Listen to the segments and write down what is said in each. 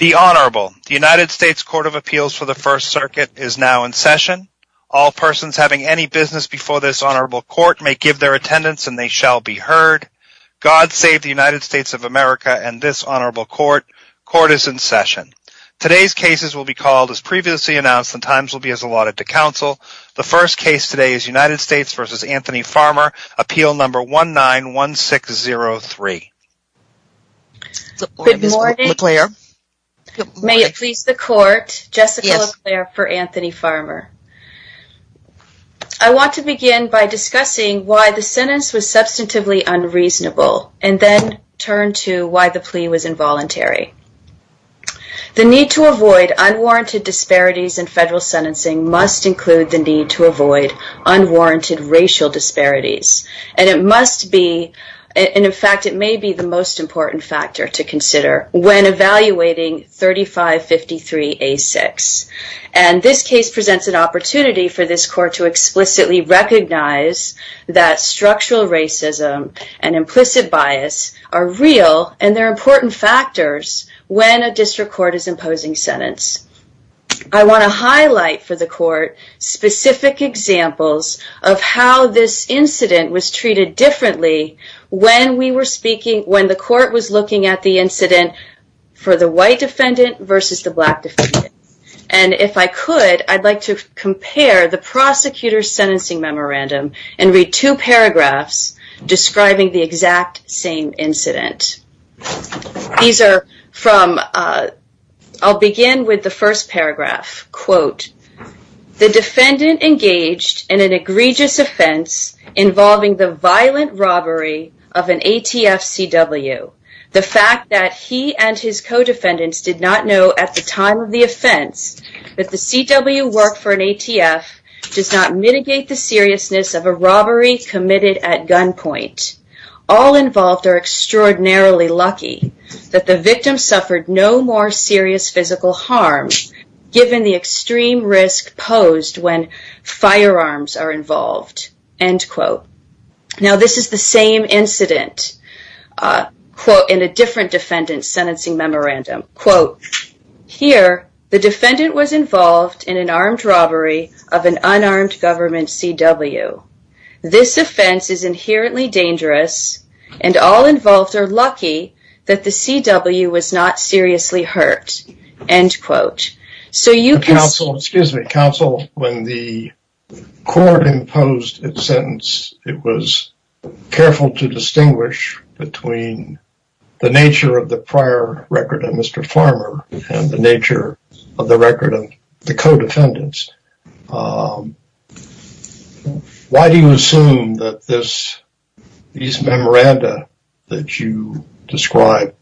United States Court of Appeals for the First Circuit is now in session. All persons having any business before this honorable court may give their attendance and they shall be heard. God save the United States of America and this honorable court. Court is in session. Today's cases will be called as previously announced and times will be allotted to counsel. The first case today is United States v. Anthony Farmer, appeal number 191603. Good morning. May it please the court, Jessica LeClair for Anthony Farmer. I want to begin by discussing why the sentence was substantively unreasonable and then turn to why the plea was involuntary. The need to avoid unwarranted disparities in federal sentencing must include the need to avoid unwarranted racial disparities. It may be the most important factor to consider when evaluating 3553A6. And this case presents an opportunity for this court to explicitly recognize that structural racism and implicit bias are real and they're important factors when a district court is imposing sentence. I want to highlight for the court specific examples of how this incident was treated differently when we were speaking, when the court was looking at the incident for the white defendant versus the black defendant. And if I could, I'd like to compare the prosecutor's sentencing memorandum and read two paragraphs describing the exact same incident. These are from, I'll begin with the first paragraph. Quote, the defendant engaged in an egregious offense involving the violent robbery of an ATF CW. The fact that he and his co-defendants did not know at the time of the offense that the CW worked for an ATF does not mitigate the seriousness of a robbery committed at gunpoint. All involved are extraordinarily lucky that the victim suffered no more serious physical harm given the extreme risk posed when firearms are involved. End quote. Now this is the same incident, quote, in a different defendant's sentencing memorandum. Quote, here the defendant was involved in an armed robbery of an unarmed government CW. This offense is inherently dangerous and all involved are lucky that the CW was not seriously hurt. End quote. Counsel, excuse me. Counsel, when the court imposed its sentence, it was careful to distinguish between the nature of the prior record of Mr. Farmer and the nature of the record of the co-defendants. Why do you assume that these memoranda that you describe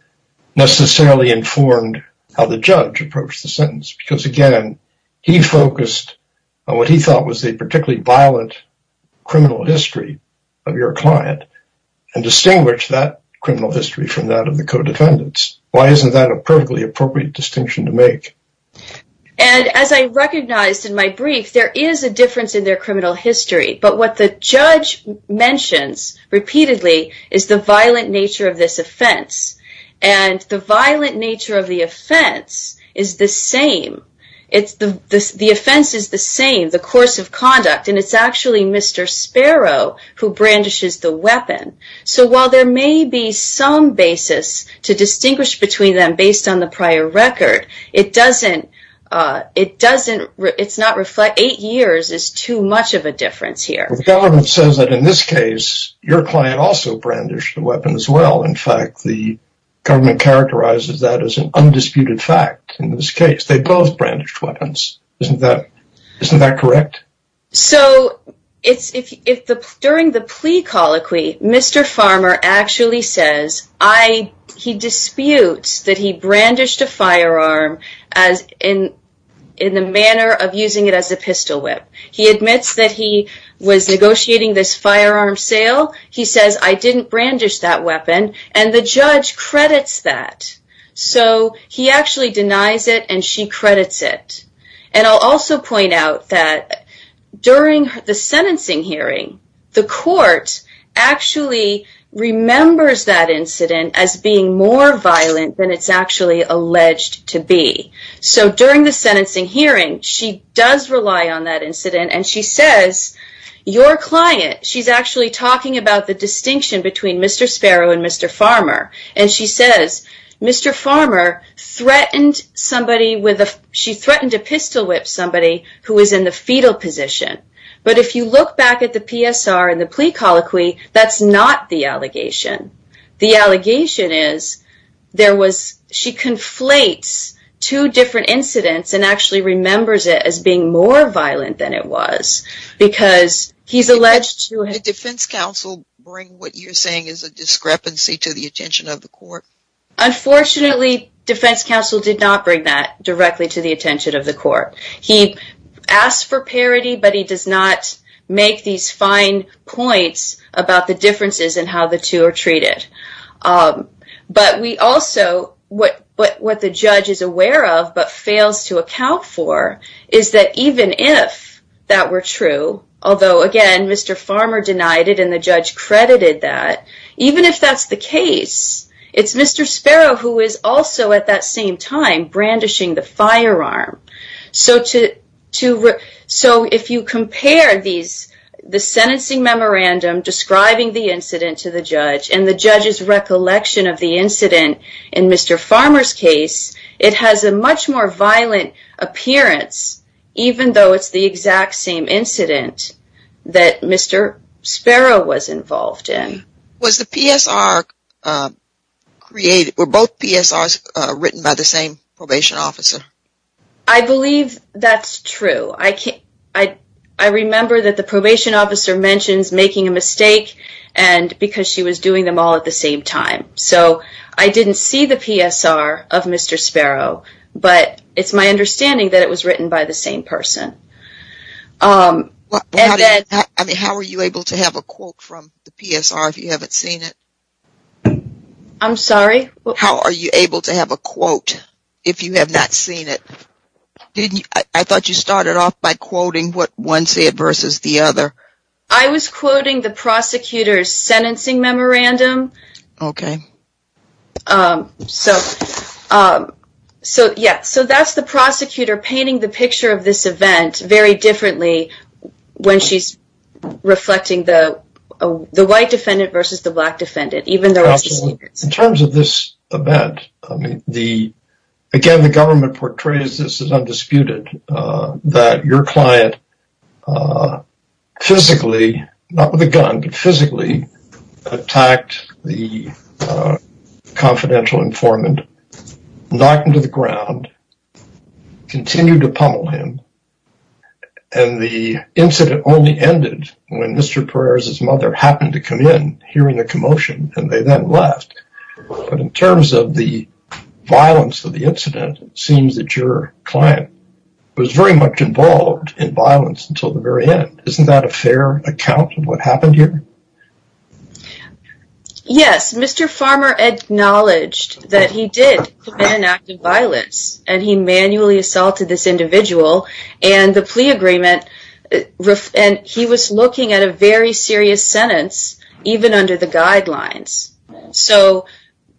necessarily informed how the judge approached the sentence? Because again, he focused on what he thought was a particularly violent criminal history of your client and distinguished that criminal history from that of the co-defendants. Why isn't that a perfectly appropriate distinction to make? And as I recognized in my brief, there is a difference in their criminal history, but what the judge mentions repeatedly is the violent nature of this offense. And the violent nature of the offense is the same. The offense is the same, the course of conduct, and it's actually Mr. Sparrow who brandishes the weapon. So while there may be some basis to distinguish between them based on the prior record, it doesn't, it doesn't, it's not reflect, eight years is too much of a difference here. The government says that in this case, your client also brandished the weapon as well. In fact, the government characterizes that as an undisputed fact. In this case, they both brandished weapons. Isn't that, isn't that correct? So it's, if, if the, during the plea colloquy, Mr. Farmer actually says, I, he disputes that he brandished a firearm as in, in the manner of using it as a pistol whip. He admits that he was negotiating this firearm sale. He says, I didn't brandish that weapon. And the judge credits that. So he actually denies it and she credits it. And I'll also point out that during the sentencing hearing, the court actually remembers that incident as being more violent than it's actually alleged to be. So during the sentencing hearing, she does rely on that incident and she says, your client, she's actually talking about the distinction between Mr. Sparrow and Mr. Farmer. And she says, Mr. Farmer threatened somebody with a, she threatened to pistol whip somebody who is in the fetal position. But if you look back at the PSR and the plea colloquy, that's not the allegation. The allegation is there was, she conflates two different incidents and actually remembers it as being more violent than it was because he's alleged to have... Unfortunately, defense counsel did not bring that directly to the attention of the court. He asked for parody, but he does not make these fine points about the differences in how the two are treated. But we also, what, what, what the judge is aware of, but fails to account for is that even if that were true, although again, Mr. Farmer denied it and the judge credited that, even if that's the case, it's Mr. Sparrow who is also at that same time brandishing the firearm. So to, to, so if you compare these, the sentencing memorandum describing the incident to the judge and the judge's recollection of the incident in Mr. Farmer's case, it has a much more violent appearance, even though it's the exact same incident that Mr. Sparrow was involved in. Was the PSR created, were both PSRs written by the same probation officer? I believe that's true. I can't, I, I remember that the probation officer mentions making a mistake and because she was doing them all at the same time. So I didn't see the PSR of Mr. Sparrow, but it's my understanding that it was written by the same person. How are you able to have a quote from the PSR if you haven't seen it? I'm sorry? How are you able to have a quote if you have not seen it? I thought you started off by quoting what one said versus the other. I was quoting the prosecutor's sentencing memorandum. Okay. So, so yeah, so that's the prosecutor painting the picture of this event very differently when she's reflecting the, the white defendant versus the black defendant, even though it's the same. In terms of this event, I mean, the, again, the government portrays this as undisputed that your client physically, not with a gun, but physically attacked the confidential informant, knocked him to the ground, continued to pummel him. And the incident only ended when Mr. Perez's mother happened to come in hearing a commotion and they then left. But in terms of the violence of the incident, it seems that your client was very much involved in violence until the very end. Isn't that a fair account of what happened here? Yes, Mr. Farmer acknowledged that he did commit an act of violence and he manually assaulted this individual and the plea agreement, and he was looking at a very serious sentence, even under the guidelines. So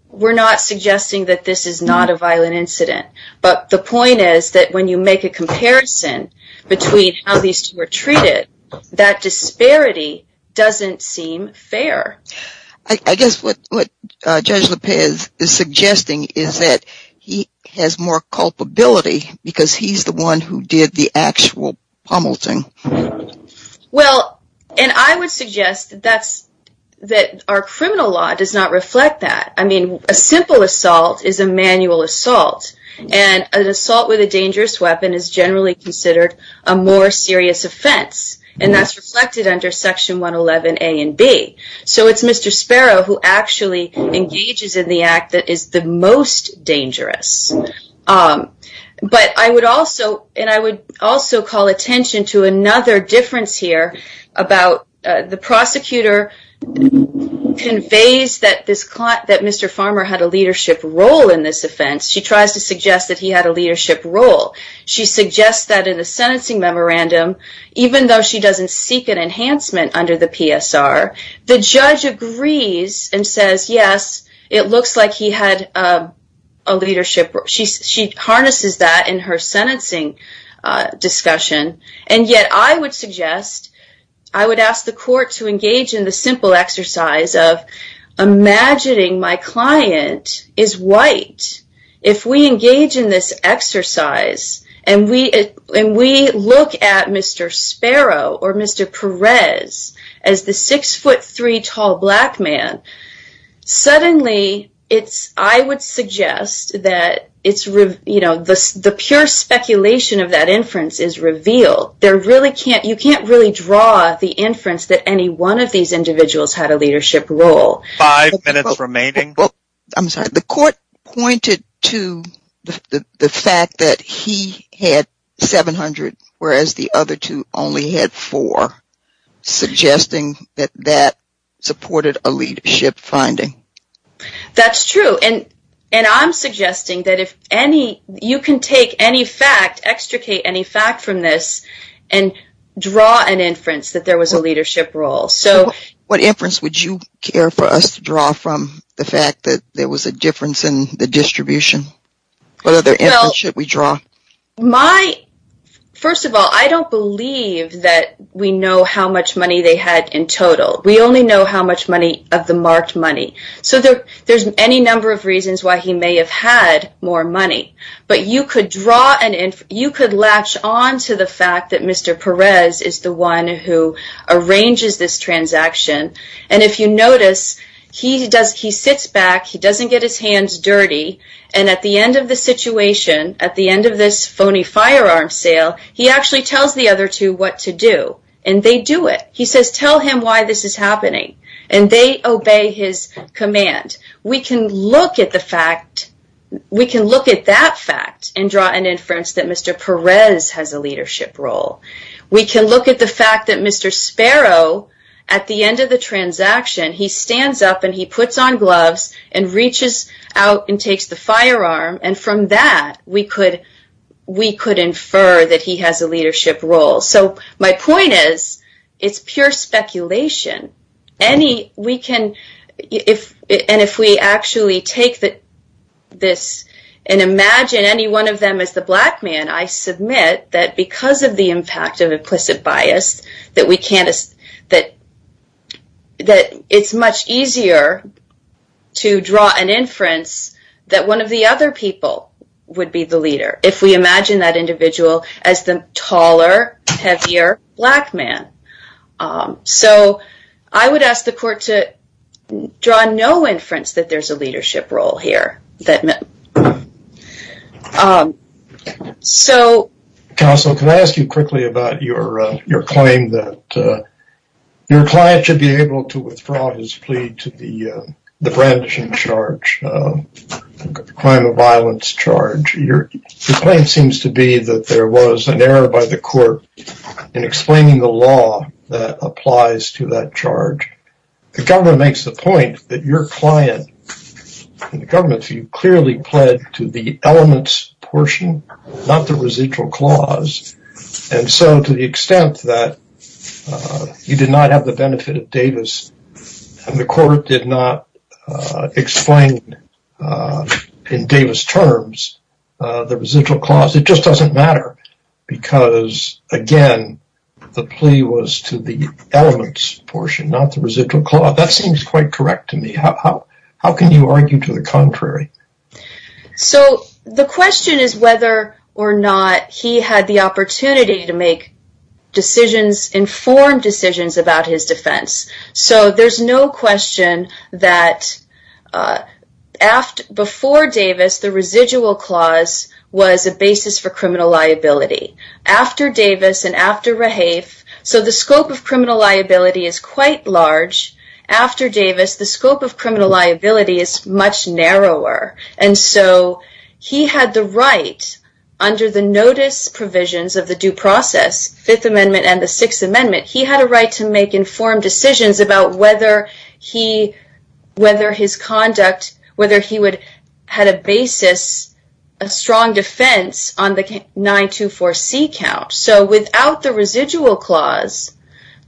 we're not suggesting that this is not a violent incident, but the point is that when you make a comparison between how these two were treated, that disparity doesn't seem fair. I guess what Judge Lopez is suggesting is that he has more culpability because he's the one who did the actual pummeling. Well, and I would suggest that our criminal law does not reflect that. I mean, a simple assault is a manual assault, and an assault with a dangerous weapon is generally considered a more serious offense, and that's reflected under Section 111A and B. So it's Mr. Sparrow who actually engages in the act that is the most dangerous. But I would also call attention to another difference here about the prosecutor conveys that Mr. Farmer had a leadership role in this offense. She tries to suggest that he had a leadership role. She suggests that in the sentencing memorandum, even though she doesn't seek an enhancement under the PSR, the judge agrees and says, yes, it looks like he had a leadership role. She harnesses that in her sentencing discussion, and yet I would suggest, I would ask the court to engage in the simple exercise of imagining my client is white. If we engage in this exercise and we look at Mr. Sparrow or Mr. Perez as the 6'3 tall black man, suddenly I would suggest that the pure speculation of that inference is revealed. You can't really draw the inference that any one of these individuals had a leadership role. Five minutes remaining. I'm sorry, the court pointed to the fact that he had 700, whereas the other two only had four, suggesting that that supported a leadership finding. That's true, and I'm suggesting that if any, you can take any fact, extricate any fact from this, and draw an inference that there was a leadership role. What inference would you care for us to draw from the fact that there was a difference in the distribution? What other inference should we draw? First of all, I don't believe that we know how much money they had in total. We only know how much money of the marked money. There's any number of reasons why he may have had more money, but you could latch on to the fact that Mr. Perez is the one who arranges this transaction. If you notice, he sits back, he doesn't get his hands dirty, and at the end of the situation, at the end of this phony firearm sale, he actually tells the other two what to do, and they do it. He says, tell him why this is happening, and they obey his command. We can look at the fact, we can look at that fact, and draw an inference that Mr. Perez has a leadership role. We can look at the fact that Mr. Sparrow, at the end of the transaction, he stands up and he puts on gloves and reaches out and takes the firearm, and from that, we could infer that he has a leadership role. My point is, it's pure speculation. If we actually take this and imagine any one of them as the black man, I submit that because of the impact of implicit bias, that it's much easier to draw an inference that one of the other people would be the leader. If we imagine that individual as the taller, heavier black man. So, I would ask the court to draw no inference that there's a leadership role here. Counsel, can I ask you quickly about your claim that your client should be able to withdraw his plea to the brandishing charge, the crime of violence charge. Your claim seems to be that there was an error by the court in explaining the law that applies to that charge. The government makes the point that your client, in the government's view, clearly pled to the elements portion, not the residual clause. And so, to the extent that you did not have the benefit of Davis, and the court did not explain in Davis terms, the residual clause, it just doesn't matter. Because, again, the plea was to the elements portion, not the residual clause. That seems quite correct to me. So, the question is whether or not he had the opportunity to make informed decisions about his defense. So, there's no question that before Davis, the residual clause was a basis for criminal liability. After Davis, and after Rahafe, so the scope of criminal liability is quite large. After Davis, the scope of criminal liability is much narrower. And so, he had the right, under the notice provisions of the due process, Fifth Amendment and the Sixth Amendment, he had a right to make informed decisions about whether his conduct, whether he had a basis, a strong defense on the 924C count. So, without the residual clause,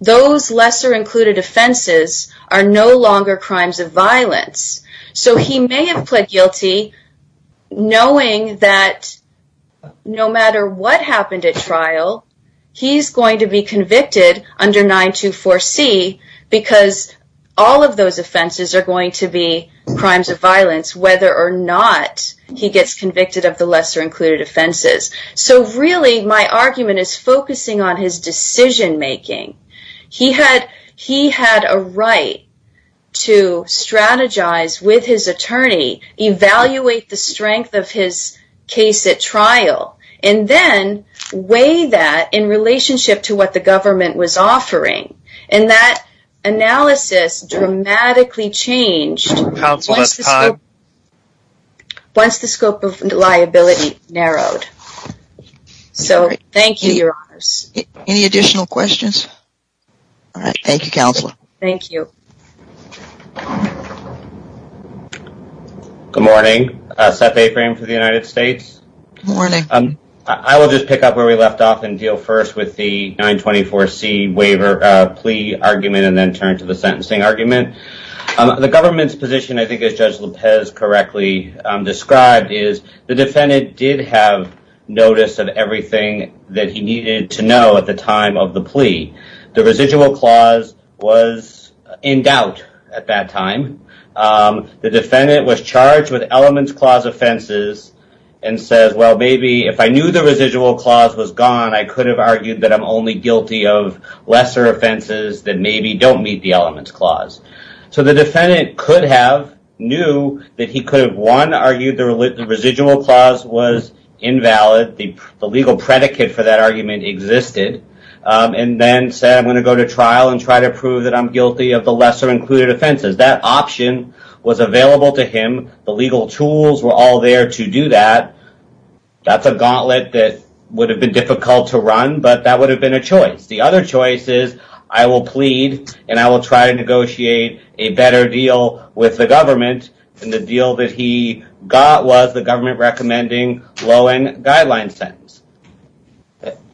those lesser included offenses are no longer crimes of violence. So, he may have pled guilty knowing that no matter what happened at trial, he's going to be convicted under 924C, because all of those offenses are going to be crimes of violence, whether or not he gets convicted of the lesser included offenses. So, really, my argument is focusing on his decision making. He had a right to strategize with his attorney, evaluate the strength of his case at trial, and then weigh that in relationship to what the government was offering. And that analysis dramatically changed once the scope of liability narrowed. Any additional questions? All right. Thank you, Counselor. Thank you. Good morning. Seth Aframe for the United States. Good morning. I will just pick up where we left off and deal first with the 924C plea argument and then turn to the sentencing argument. The government's position, I think, as Judge Lopez correctly described, is the defendant did have notice of everything that he needed to know at the time of the plea. The residual clause was in doubt at that time. The defendant was charged with elements clause offenses and says, well, maybe if I knew the residual clause was gone, I could have argued that I'm only guilty of lesser offenses that maybe don't meet the elements clause. So, the defendant could have knew that he could have, one, argued the residual clause was invalid. The legal predicate for that argument existed. And then said, I'm going to go to trial and try to prove that I'm guilty of the lesser included offenses. That option was available to him. The legal tools were all there to do that. That's a gauntlet that would have been difficult to run. But that would have been a choice. The other choice is, I will plead and I will try to negotiate a better deal with the government. And the deal that he got was the government recommending low-end guidelines sentence.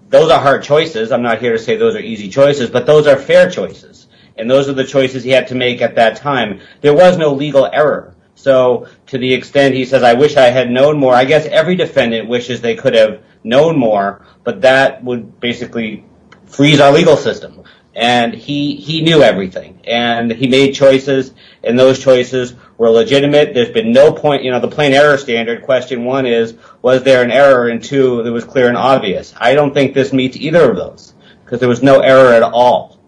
Those are hard choices. I'm not here to say those are easy choices. But those are fair choices. And those are the choices he had to make at that time. There was no legal error. So, to the extent he says, I wish I had known more. I guess every defendant wishes they could have known more. But that would basically freeze our legal system. And he knew everything. And he made choices. And those choices were legitimate. There's been no point, you know, the plain error standard. Question one is, was there an error? And two, it was clear and obvious. I don't think this meets either of those. Because there was no error at all.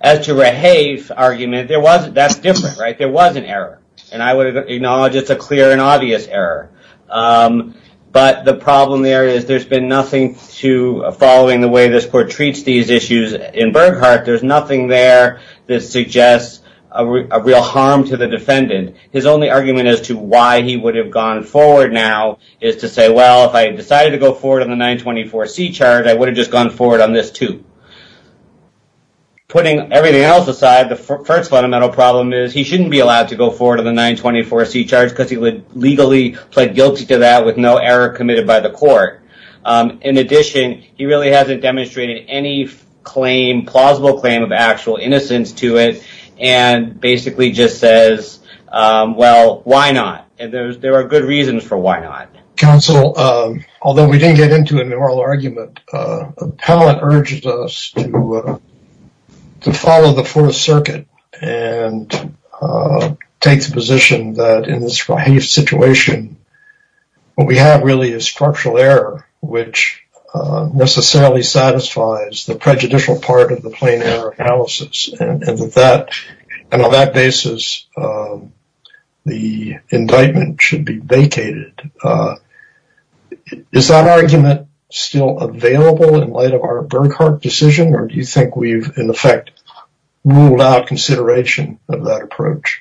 As to Rahave's argument, that's different, right? There was an error. And I would acknowledge it's a clear and obvious error. But the problem there is there's been nothing to following the way this court treats these issues in Burghardt. There's nothing there that suggests a real harm to the defendant. His only argument as to why he would have gone forward now is to say, well, if I decided to go forward on the 924C charge, I would have just gone forward on this too. Putting everything else aside, the first fundamental problem is he shouldn't be allowed to go forward on the 924C charge because he would legally plead guilty to that with no error committed by the court. In addition, he really hasn't demonstrated any claim, plausible claim of actual innocence to it, and basically just says, well, why not? And there are good reasons for why not. Counsel, although we didn't get into an oral argument, Appellant urges us to follow the Fourth Circuit and take the position that in this Rahave situation, what we have really is structural error, which necessarily satisfies the prejudicial part of the plain error analysis. And on that basis, the indictment should be vacated. Is that argument still available in light of our Burghardt decision, or do you think we've, in effect, ruled out consideration of that approach?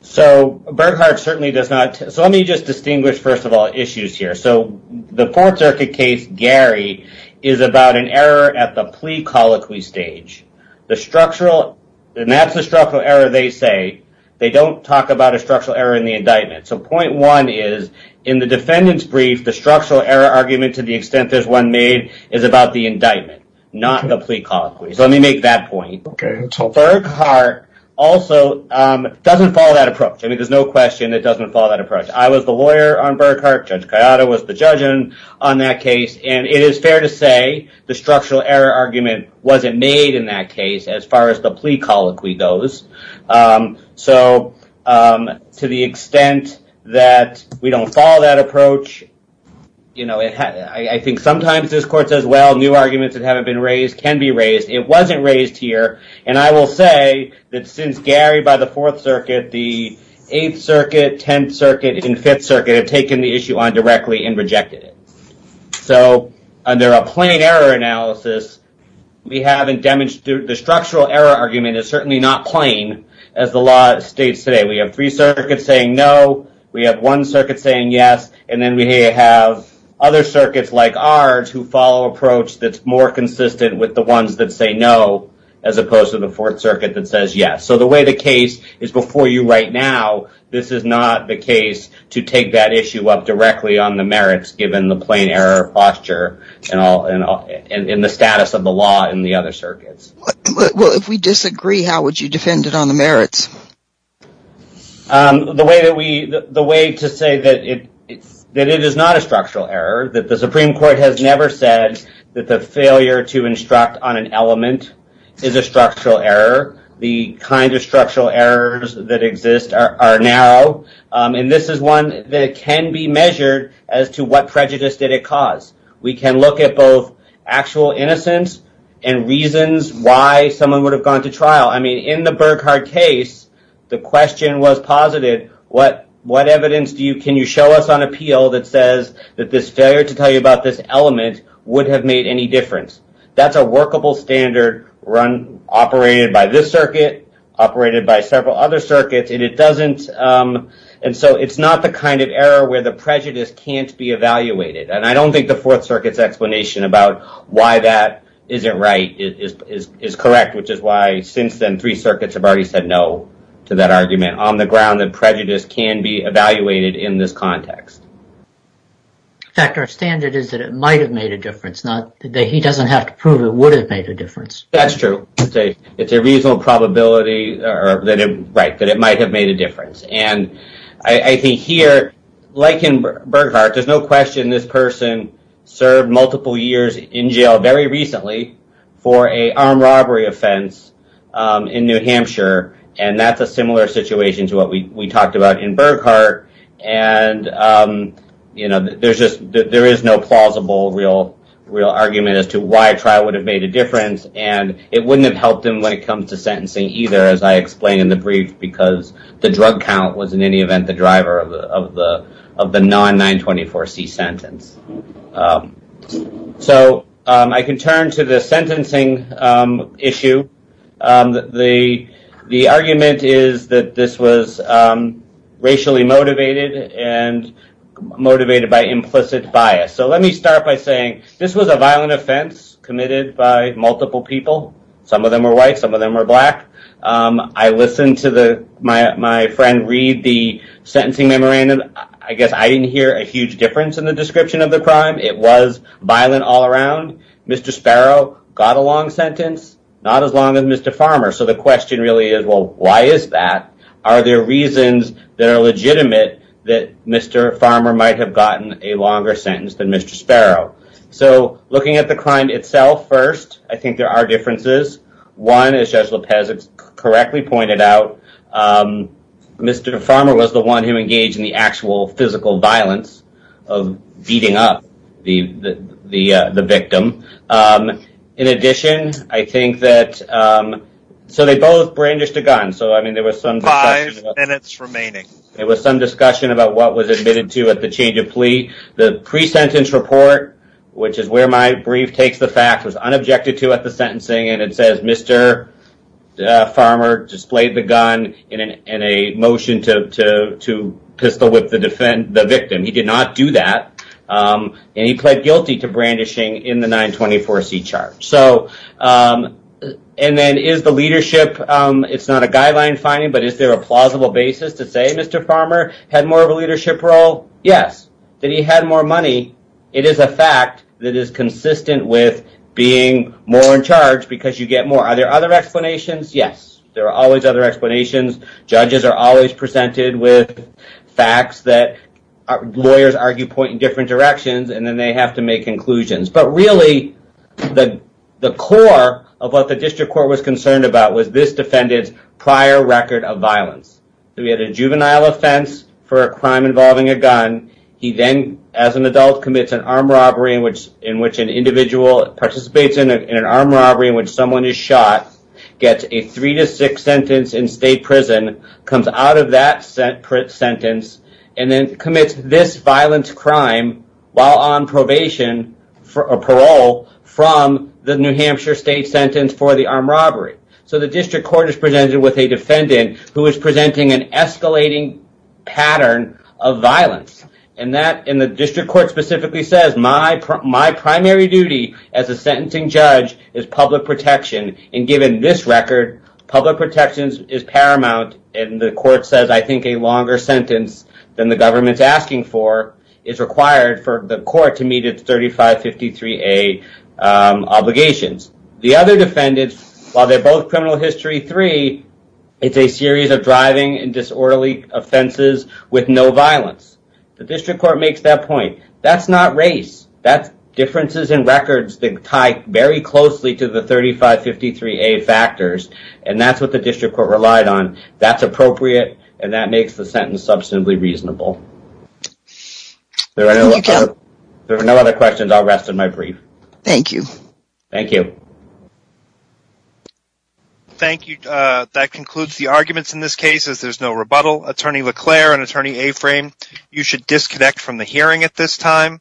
So Burghardt certainly does not. So let me just distinguish, first of all, issues here. So the Fourth Circuit case, Gary, is about an error at the plea colloquy stage. And that's the structural error they say. They don't talk about a structural error in the indictment. So point one is, in the defendant's brief, the structural error argument, to the extent there's one made, is about the indictment, not the plea colloquy. So let me make that point. Burghardt also doesn't follow that approach. I mean, there's no question it doesn't follow that approach. I was the lawyer on Burghardt. Judge Kayada was the judge on that case. And it is fair to say the structural error argument wasn't made in that case, as far as the plea colloquy goes. So to the extent that we don't follow that approach, you know, I think sometimes this court says, well, new arguments that haven't been raised can be raised. It wasn't raised here. And I will say that since Gary, by the Fourth Circuit, the Eighth Circuit, Tenth Circuit, and Fifth Circuit, have taken the issue on directly and rejected it. So under a plain error analysis, we haven't damaged the structural error argument. It's certainly not plain, as the law states today. We have three circuits saying no. We have one circuit saying yes. And then we have other circuits, like ours, who follow an approach that's more consistent with the ones that say no, as opposed to the Fourth Circuit that says yes. So the way the case is before you right now, this is not the case to take that issue up directly on the merits, given the plain error posture and the status of the law in the other circuits. Well, if we disagree, how would you defend it on the merits? The way to say that it is not a structural error, that the Supreme Court has never said that the failure to instruct on an element is a structural error. The kind of structural errors that exist are narrow. And this is one that can be measured as to what prejudice did it cause. We can look at both actual innocence and reasons why someone would have gone to trial. I mean, in the Burghardt case, the question was posited, what evidence can you show us on appeal that says that this failure to tell you about this element would have made any difference? That's a workable standard run, operated by this circuit, operated by several other circuits. And it doesn't. And so it's not the kind of error where the prejudice can't be evaluated. And I don't think the Fourth Circuit's explanation about why that isn't right is correct, which is why since then, three circuits have already said no to that argument on the ground that prejudice can be evaluated in this context. In fact, our standard is that it might have made a difference, not that he doesn't have to prove it would have made a difference. That's true. It's a reasonable probability that it might have made a difference. And I think here, like in Burghardt, there's no question this person served multiple years in jail very recently for a armed robbery offense in New Hampshire. And that's a similar situation to what we talked about in Burghardt. And there is no plausible real argument as to why a trial would have made a difference. And it wouldn't have helped him when it comes to sentencing either, as I explained in the brief, because the drug count was in any event the driver of the non-924C sentence. So I can turn to the sentencing issue. The argument is that this was racially motivated and motivated by implicit bias. So let me start by saying this was a violent offense committed by multiple people. Some of them were white. Some of them were black. I listened to my friend read the sentencing memorandum. I guess I didn't hear a huge difference in the description of the crime. It was violent all around. Mr. Sparrow got a long sentence, not as long as Mr. Farmer. So the question really is, well, why is that? Are there reasons that are legitimate that Mr. Farmer might have gotten a longer sentence than Mr. Sparrow? So looking at the crime itself first, I think there are differences. One, as Judge Lopez correctly pointed out, Mr. Farmer was the one who engaged in the actual physical violence of beating up the victim. In addition, I think that so they both brandished a gun. So, I mean, there was some five minutes remaining. It was some discussion about what was admitted to at the change of plea. The pre-sentence report, which is where my brief takes the facts, was unobjected to at the sentencing. And it says Mr. Farmer displayed the gun in a motion to pistol whip the victim. He did not do that. And he pled guilty to brandishing in the 924C charge. And then is the leadership, it's not a guideline finding, but is there a plausible basis to say Mr. Farmer had more of a leadership role? Yes. That he had more money, it is a fact that is consistent with being more in charge because you get more. Are there other explanations? Yes. There are always other explanations. Judges are always presented with facts that lawyers argue point in different directions, and then they have to make conclusions. But really, the core of what the district court was concerned about was this defendant's prior record of violence. He had a juvenile offense for a crime involving a gun. He then, as an adult, commits an armed robbery in which an individual participates in an armed robbery in which someone is shot, gets a three to six sentence in state prison, comes out of that sentence, and then commits this violent crime while on probation or parole from the New Hampshire state sentence for the armed robbery. So the district court is presented with a defendant who is presenting an escalating pattern of violence. And the district court specifically says my primary duty as a sentencing judge is public protection. And given this record, public protection is paramount. And the court says I think a longer sentence than the government's asking for is required for the court to meet its 3553A obligations. The other defendants, while they're both criminal history three, it's a series of driving and disorderly offenses with no violence. The district court makes that point. That's not race. That's differences in records that tie very closely to the 3553A factors. And that's what the district court relied on. That's appropriate, and that makes the sentence substantively reasonable. There are no other questions. I'll rest in my brief. Thank you. Thank you. Thank you. That concludes the arguments in this case, as there's no rebuttal. Attorney LeClaire and Attorney Aframe, you should disconnect from the hearing at this time.